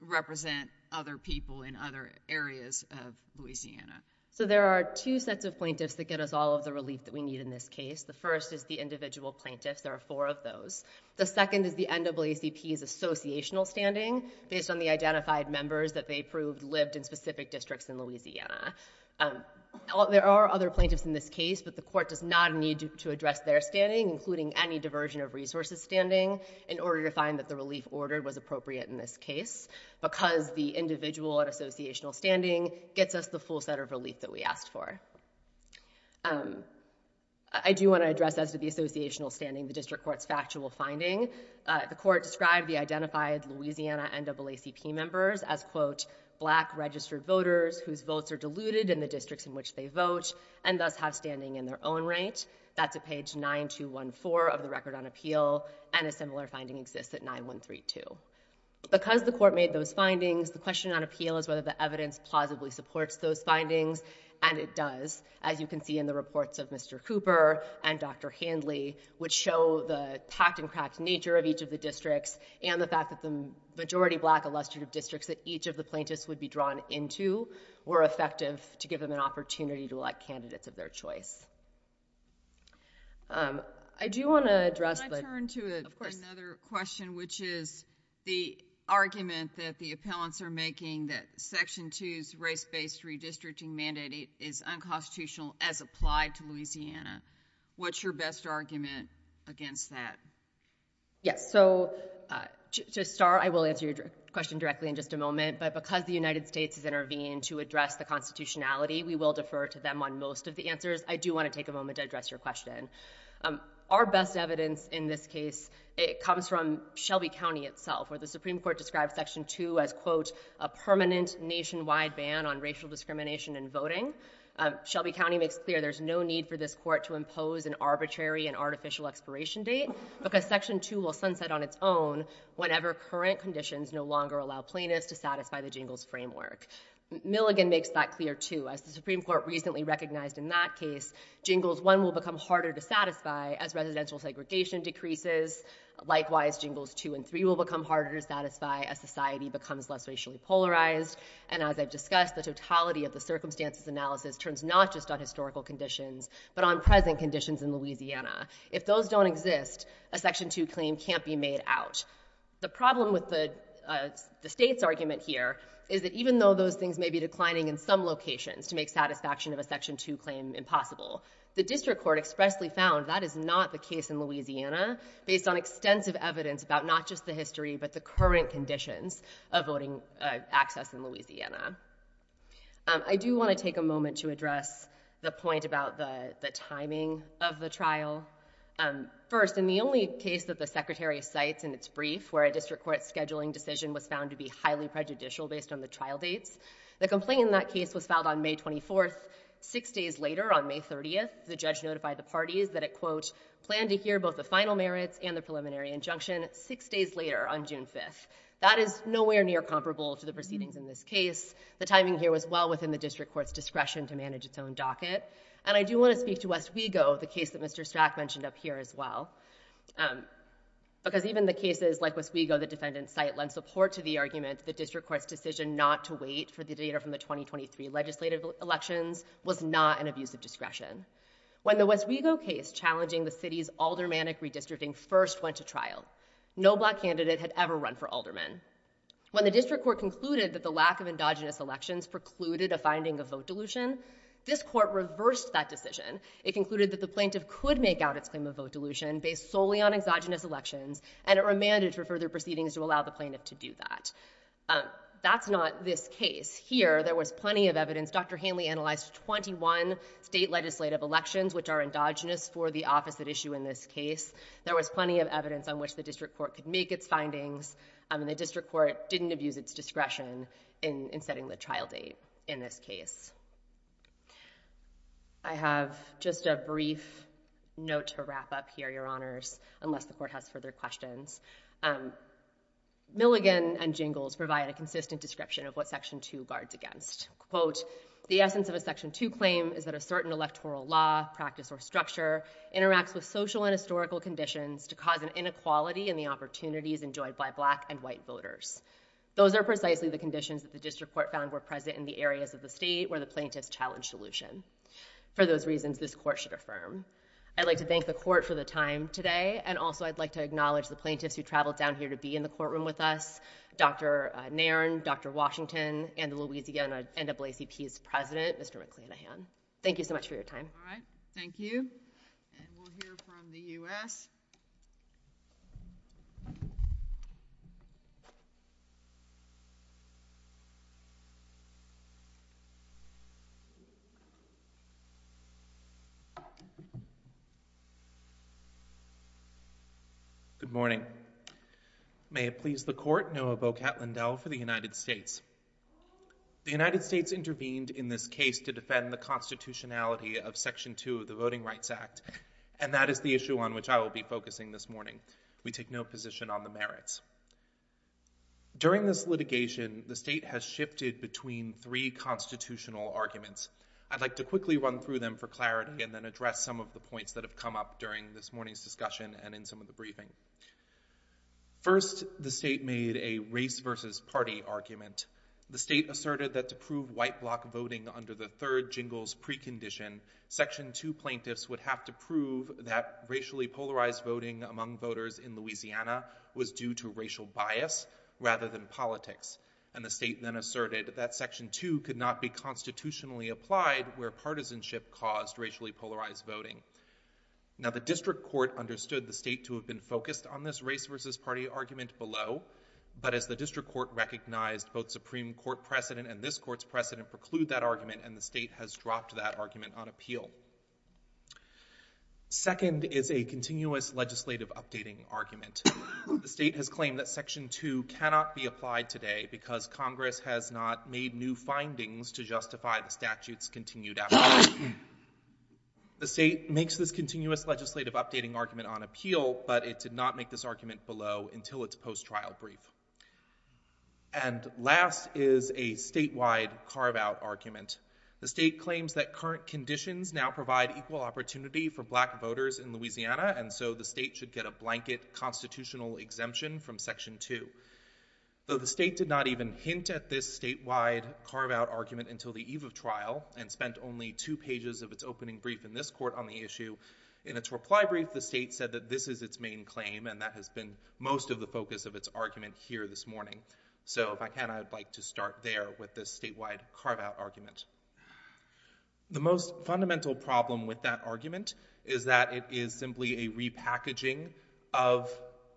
represent other people in other areas of Louisiana. So there are two sets of plaintiffs that get us all of the relief that we need in this case. The first is the individual plaintiffs. There are four of those. The second is the NAACP's associational standing based on the identified members that they proved lived in specific districts in Louisiana. There are other plaintiffs in this case, but the court does not need to address their standing, including any diversion of resources standing, in order to find that the relief ordered was appropriate in this case because the individual and associational standing gets us the full set of relief that we asked for. I do want to address as to the associational standing the district court's factual finding. The court described the identified Louisiana NAACP members as, quote, black registered voters whose votes are diluted in the districts in which they vote and thus have standing in their own right. That's at page 9214 of the record on appeal, and a similar finding exists at 9132. Because the court made those findings, the question on appeal is whether the evidence plausibly supports those findings, and it does. As you can see in the reports of Mr. Cooper and Dr. Handley, which show the packed and cracked nature of each of the districts and the fact that the majority black illustrative districts that each of the plaintiffs would be drawn into were effective to give them an opportunity to elect candidates of their choice. I do want to address the- Can I turn to another question, which is the argument that the appellants are making that Section 2's race-based redistricting mandate is unconstitutional as applied to Louisiana? What's your best argument against that? Yes, so to start, I will answer your question directly in just a moment, but because the United States has intervened to address the constitutionality, we will defer to them on most of the answers. I do want to take a moment to address your question. Our best evidence in this case comes from Shelby County itself, where the Supreme Court described Section 2 as, quote, a permanent nationwide ban on racial discrimination in voting. Shelby County makes clear there's no need for this court to impose an arbitrary and artificial expiration date because Section 2 will sunset on its own whenever current conditions no longer allow plaintiffs to satisfy the Jingles framework. Milligan makes that clear, too. As the Supreme Court recently recognized in that case, Jingles 1 will become harder to satisfy as residential segregation decreases. Likewise, Jingles 2 and 3 will become harder to satisfy as society becomes less racially polarized. And as I've discussed, the totality of the circumstances analysis turns not just on historical conditions but on present conditions in Louisiana. If those don't exist, a Section 2 claim can't be made out. The problem with the state's argument here is that even though those things may be declining in some locations to make satisfaction of a Section 2 claim impossible, the district court expressly found that is not the case in Louisiana based on extensive evidence about not just the history but the current conditions of voting access in Louisiana. I do want to take a moment to address the point about the timing of the trial. First, in the only case that the Secretary cites in its brief where a district court scheduling decision was found to be highly prejudicial based on the trial dates, the complaint in that case was filed on May 24th. Six days later, on May 30th, the judge notified the parties that it, quote, I plan to hear both the final merits and the preliminary injunction six days later, on June 5th. That is nowhere near comparable to the proceedings in this case. The timing here was well within the district court's discretion to manage its own docket. And I do want to speak to West Wego, the case that Mr. Strack mentioned up here as well, because even the cases like West Wego, the defendant's site, lend support to the argument that the district court's decision not to wait for the data from the 2023 legislative elections was not an abuse of discretion. When the West Wego case challenging the city's aldermanic redistricting first went to trial, no black candidate had ever run for alderman. When the district court concluded that the lack of endogenous elections precluded a finding of vote dilution, this court reversed that decision. It concluded that the plaintiff could make out its claim of vote dilution based solely on exogenous elections, and it remanded for further proceedings to allow the plaintiff to do that. That's not this case. In this case here, there was plenty of evidence. Dr. Hanley analyzed 21 state legislative elections, which are endogenous for the opposite issue in this case. There was plenty of evidence on which the district court could make its findings, and the district court didn't abuse its discretion in setting the trial date in this case. I have just a brief note to wrap up here, Your Honors, unless the court has further questions. Milligan and Jingles provide a consistent description of what Section 2 guards against. Quote, the essence of a Section 2 claim is that a certain electoral law, practice, or structure interacts with social and historical conditions to cause an inequality in the opportunities enjoyed by black and white voters. Those are precisely the conditions that the district court found were present in the areas of the state where the plaintiffs challenged dilution. For those reasons, this court should affirm. I'd like to thank the court for the time today, and also I'd like to acknowledge the plaintiffs who traveled down here to be in the courtroom with us, Dr. Nairn, Dr. Washington, and the Louisiana NAACP's president, Mr. McClanahan. Thank you so much for your time. All right. Thank you. And we'll hear from the U.S. Good morning. May it please the court, Noah Bokat-Lindell for the United States. The United States intervened in this case to defend the constitutionality of Section 2 of the Voting Rights Act, and that is the issue on which I will be focusing this morning. We take no position on the merits. During this litigation, the state has shifted between three constitutional arguments. I'd like to quickly run through them for clarity and then address some of the points that have come up during this morning's discussion and in some of the briefing. First, the state made a race versus party argument. The state asserted that to prove white block voting under the third jingles precondition, Section 2 plaintiffs would have to prove that racially polarized voting among voters in Louisiana was due to racial bias rather than politics. And the state then asserted that Section 2 could not be constitutionally applied where partisanship caused racially polarized voting. Now, the district court understood the state to have been focused on this race versus party argument below, but as the district court recognized, both Supreme Court precedent and this court's precedent preclude that argument, and the state has dropped that argument on appeal. Second is a continuous legislative updating argument. The state has claimed that Section 2 cannot be applied today because Congress has not made new findings to justify the statute's continued application. The state makes this continuous legislative updating argument on appeal, but it did not make this argument below until its post-trial brief. And last is a statewide carve-out argument. The state claims that current conditions now provide equal opportunity for black voters in Louisiana, and so the state should get a blanket constitutional exemption from Section 2. Though the state did not even hint at this statewide carve-out argument until the eve of trial, and spent only two pages of its opening brief in this court on the issue, in its reply brief, the state said that this is its main claim, and that has been most of the focus of its argument here this morning. So if I can, I'd like to start there with this statewide carve-out argument. The most fundamental problem with that argument is that it is simply a repackaging of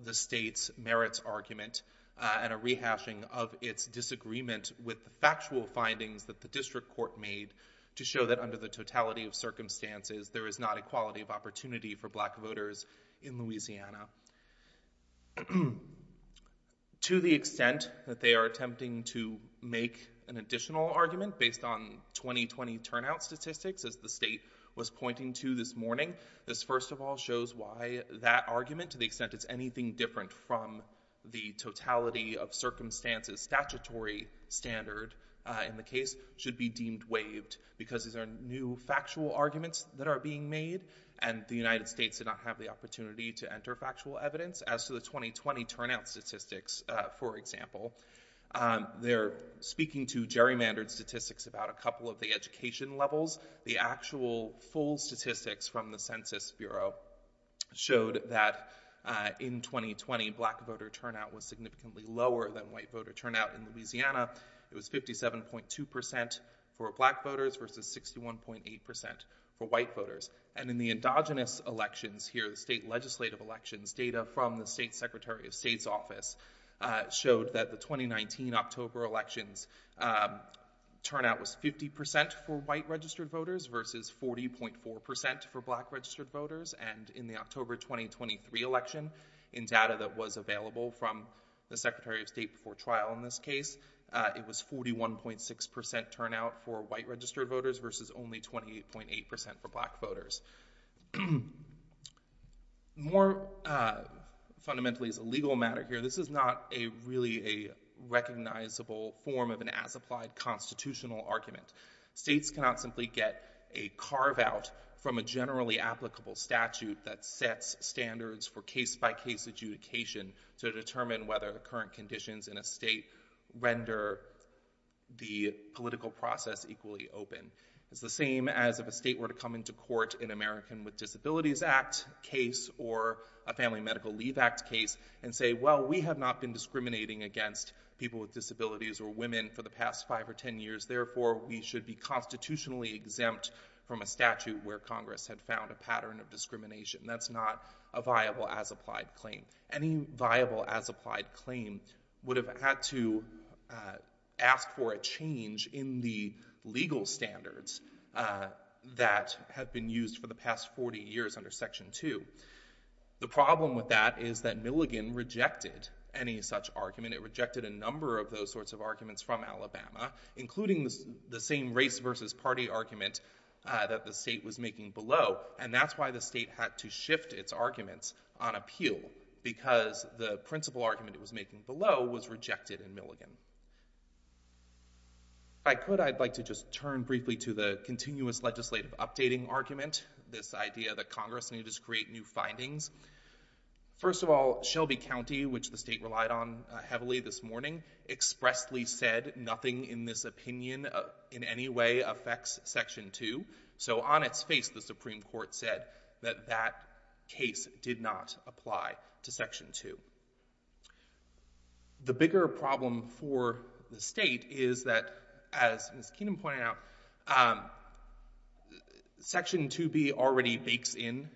the state's merits argument and a rehashing of its disagreement with the factual findings that the district court made to show that under the totality of circumstances, there is not equality of opportunity for black voters in Louisiana. To the extent that they are attempting to make an additional argument based on 2020 turnout statistics, as the state was pointing to this morning, this first of all shows why that argument, to the extent it's anything different from the totality of circumstances statutory standard in the case, should be deemed waived, because these are new factual arguments that are being made, and the United States did not have the opportunity to enter factual evidence. As to the 2020 turnout statistics, for example, they're speaking to gerrymandered statistics about a couple of the education levels, the actual full statistics from the Census Bureau showed that in 2020, black voter turnout was significantly lower than white voter turnout in Louisiana. It was 57.2% for black voters versus 61.8% for white voters. And in the endogenous elections here, the state legislative elections, data from the State Secretary of State's office showed that the 2019 October elections turnout was 50% for white registered voters versus 40.4% for black registered voters. And in the October 2023 election, in data that was available from the Secretary of State before trial in this case, it was 41.6% turnout for white registered voters versus only 28.8% for black voters. More fundamentally as a legal matter here, this is not really a recognizable form of an as-applied constitutional argument. States cannot simply get a carve-out from a generally applicable statute that sets standards for case-by-case adjudication to determine whether the current conditions in a state render the political process equally open. It's the same as if a state were to come into court in an American with Disabilities Act case or a Family Medical Leave Act case and say, well, we have not been discriminating against people with disabilities or women for the past 5 or 10 years, therefore we should be constitutionally exempt from a statute where Congress had found a pattern of discrimination. That's not a viable as-applied claim. Any viable as-applied claim would have had to ask for a change in the legal standards that have been used for the past 40 years under Section 2. The problem with that is that Milligan rejected any such argument. It rejected a number of those sorts of arguments from Alabama, including the same race versus party argument that the state was making below, and that's why the state had to shift its arguments on appeal because the principal argument it was making below was rejected in Milligan. If I could, I'd like to just turn briefly to the continuous legislative updating argument, this idea that Congress needed to create new findings. First of all, Shelby County, which the state relied on heavily this morning, expressly said nothing in this opinion in any way affects Section 2. So on its face, the Supreme Court said that that case did not apply to Section 2. The bigger problem for the state is that, as Ms. Keenan pointed out, Section 2B already bakes in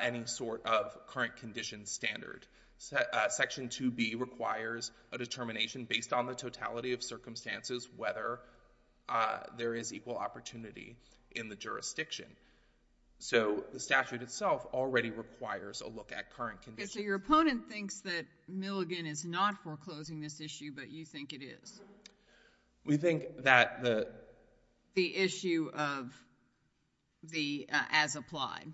any sort of current conditions standard. Section 2B requires a determination based on the totality of circumstances whether there is equal opportunity in the jurisdiction. So the statute itself already requires a look at current conditions. So your opponent thinks that Milligan is not foreclosing this issue, but you think it is? We think that the— The issue as applied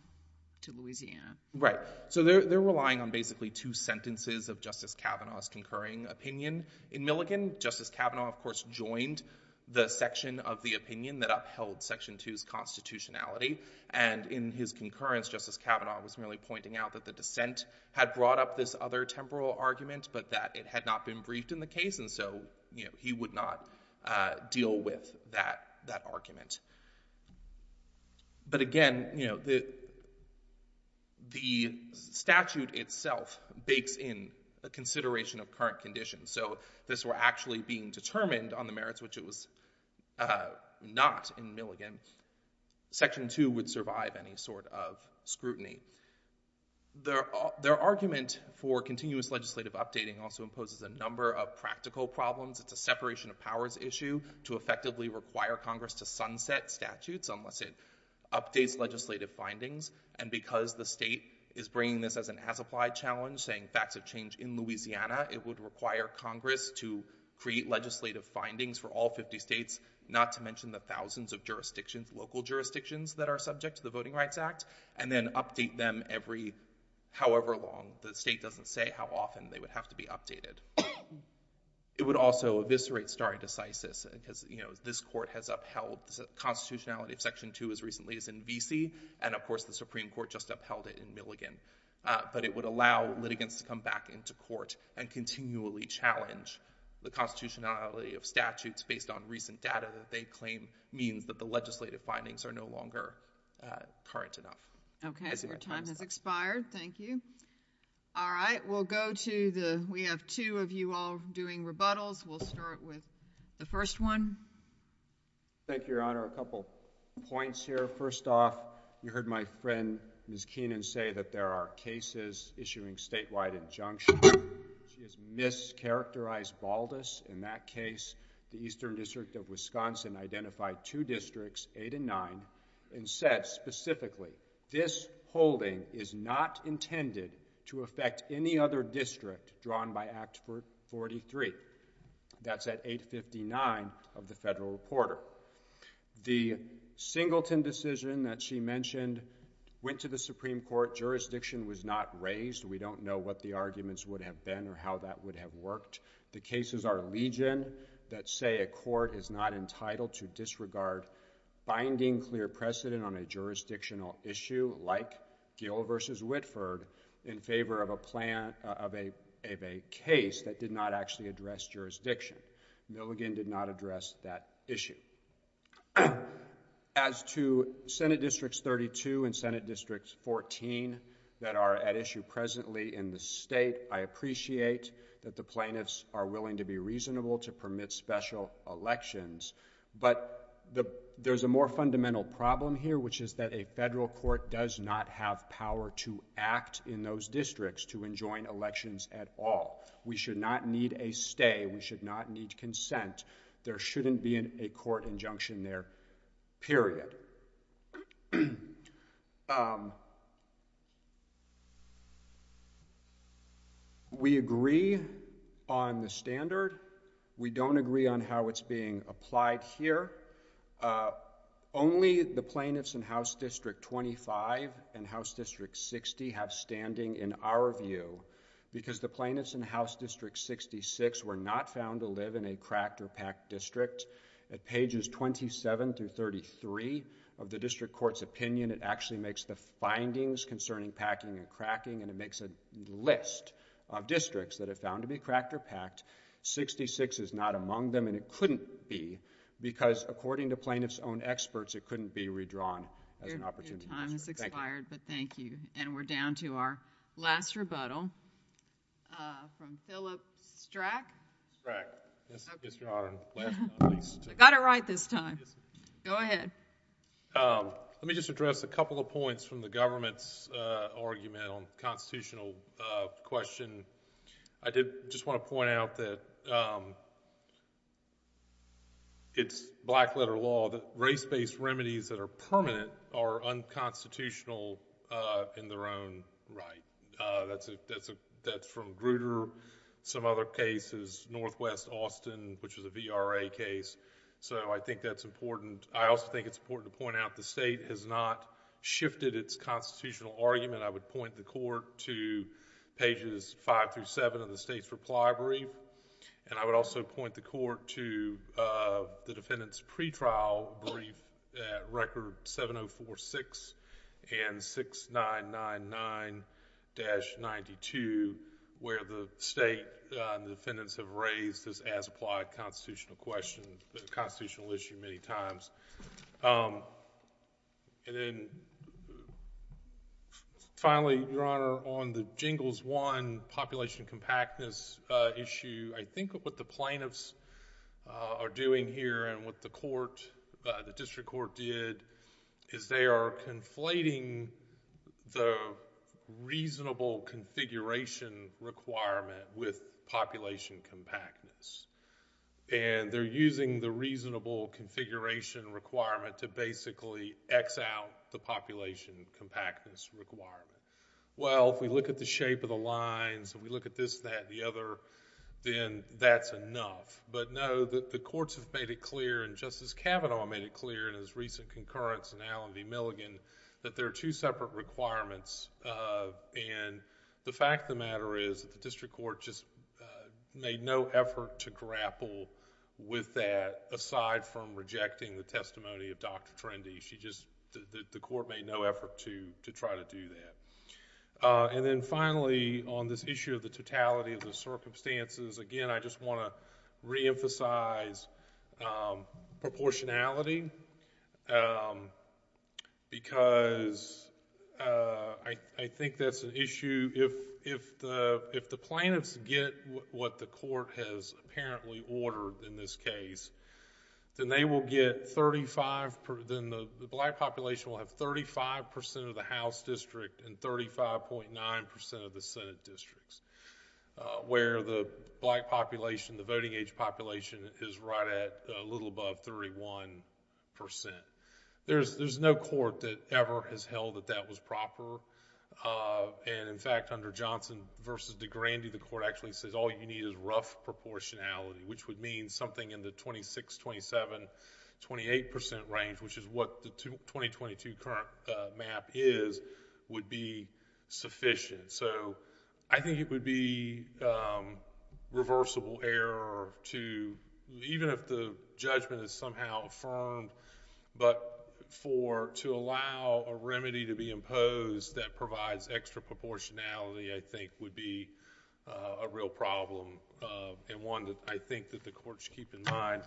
to Louisiana. Right. So they're relying on basically two sentences of Justice Kavanaugh's concurring opinion. In Milligan, Justice Kavanaugh, of course, joined the section of the opinion that upheld Section 2's constitutionality, and in his concurrence, Justice Kavanaugh was merely pointing out that the dissent had brought up this other temporal argument but that it had not been briefed in the case, and so he would not deal with that argument. But again, the statute itself bakes in a consideration of current conditions. So if this were actually being determined on the merits, which it was not in Milligan, Section 2 would survive any sort of scrutiny. Their argument for continuous legislative updating also imposes a number of practical problems. It's a separation of powers issue to effectively require Congress to sunset statutes unless it updates legislative findings, and because the state is bringing this as an as-applied challenge, saying facts have changed in Louisiana, it would require Congress to create legislative findings for all 50 states, not to mention the thousands of jurisdictions, local jurisdictions, that are subject to the Voting Rights Act, and then update them however long. The state doesn't say how often they would have to be updated. It would also eviscerate stare decisis, because this court has upheld the constitutionality of Section 2 as recently as in Vesey, and of course the Supreme Court just upheld it in Milligan. But it would allow litigants to come back into court and continually challenge the constitutionality of statutes based on recent data that they claim means that the legislative findings are no longer current enough. Okay. Your time has expired. Thank you. All right. We'll go to the—we have two of you all doing rebuttals. We'll start with the first one. Thank you, Your Honor. A couple points here. First off, you heard my friend, Ms. Keenan, say that there are cases issuing statewide injunctions. She has mischaracterized Baldus in that case. The Eastern District of Wisconsin identified two districts, 8 and 9, and said specifically, this holding is not intended to affect any other district drawn by Act 43. That's at 859 of the Federal Reporter. The Singleton decision that she mentioned went to the Supreme Court. Jurisdiction was not raised. We don't know what the arguments would have been or how that would have worked. The cases are legion that say a court is not entitled to disregard binding clear precedent on a jurisdictional issue like Gill v. Whitford in favor of a case that did not actually address jurisdiction. Milligan did not address that issue. As to Senate Districts 32 and Senate Districts 14 that are at issue presently in the state, I appreciate that the plaintiffs are willing to be reasonable to permit special elections, but there's a more fundamental problem here, which is that a federal court does not have power to act in those districts to enjoin elections at all. We should not need a stay. We should not need consent. There shouldn't be a court injunction there, period. We agree on the standard. We don't agree on how it's being applied here. Only the plaintiffs in House District 25 and House District 60 have standing in our view because the plaintiffs in House District 66 were not found to live in a cracked or packed district. At pages 27 through 33 of the district court's opinion, it actually makes the findings concerning packing and cracking and it makes a list of districts that are found to be cracked or packed. Sixty-six is not among them and it couldn't be because according to plaintiffs' own experts, it couldn't be redrawn as an opportunity. Thank you. Thank you. And we're down to our last rebuttal from Philip Strack. Strack. Yes, Your Honor. Last but not least. I got it right this time. Go ahead. Let me just address a couple of points from the government's argument on the constitutional question. I did just want to point out that it's black-letter law, that race-based remedies that are permanent are unconstitutional in their own right. That's from Grutter. Some other cases, Northwest Austin, which is a VRA case. I think that's important. I also think it's important to point out the state has not shifted its constitutional argument. I would point the court to pages five through seven of the state's reply brief. I would also point the court to the defendant's pretrial brief at Record 7046 and 6999-92, where the state and the defendants have raised this as-applied constitutional question, the constitutional issue many times. Finally, Your Honor, on the Jingles I population compactness issue, I think what the plaintiffs are doing here and what the district court did is they are conflating the reasonable configuration requirement with population compactness. They're using the reasonable configuration requirement to basically X out the population compactness requirement. Well, if we look at the shape of the lines and we look at this, that, and the other, then that's enough. Know that the courts have made it clear, and Justice Kavanaugh made it clear in his recent concurrence in Allen v. Milligan, that there are two separate requirements. The fact of the matter is that the district court just made no effort to grapple with that aside from rejecting the testimony of Dr. Trendy. The court made no effort to try to do that. Finally, on this issue of the totality of the circumstances, again, I just want to reemphasize proportionality because I think that's an issue... if the plaintiffs get what the court has apparently ordered in this case, then they will get 35... then the black population will have 35% of the house district and 35.9% of the senate districts, where the black population, the voting age population is right at a little above 31%. There's no court that ever has held that that was proper. In fact, under Johnson v. DeGrande, the court actually says all you need is rough proportionality, which would mean something in the 26, 27, 28% range, which is what the 2022 current map is, would be sufficient. I think it would be reversible error to... even if the judgment is somehow affirmed, but to allow a remedy to be imposed that provides extra proportionality, I think, would be a real problem and one that I think that the court should keep in mind.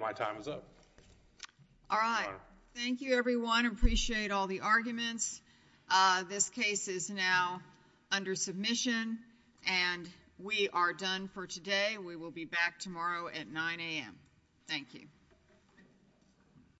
My time is up. All right. Thank you, everyone. I appreciate all the arguments. This case is now under submission, and we are done for today. We will be back tomorrow at 9 a.m. Thank you.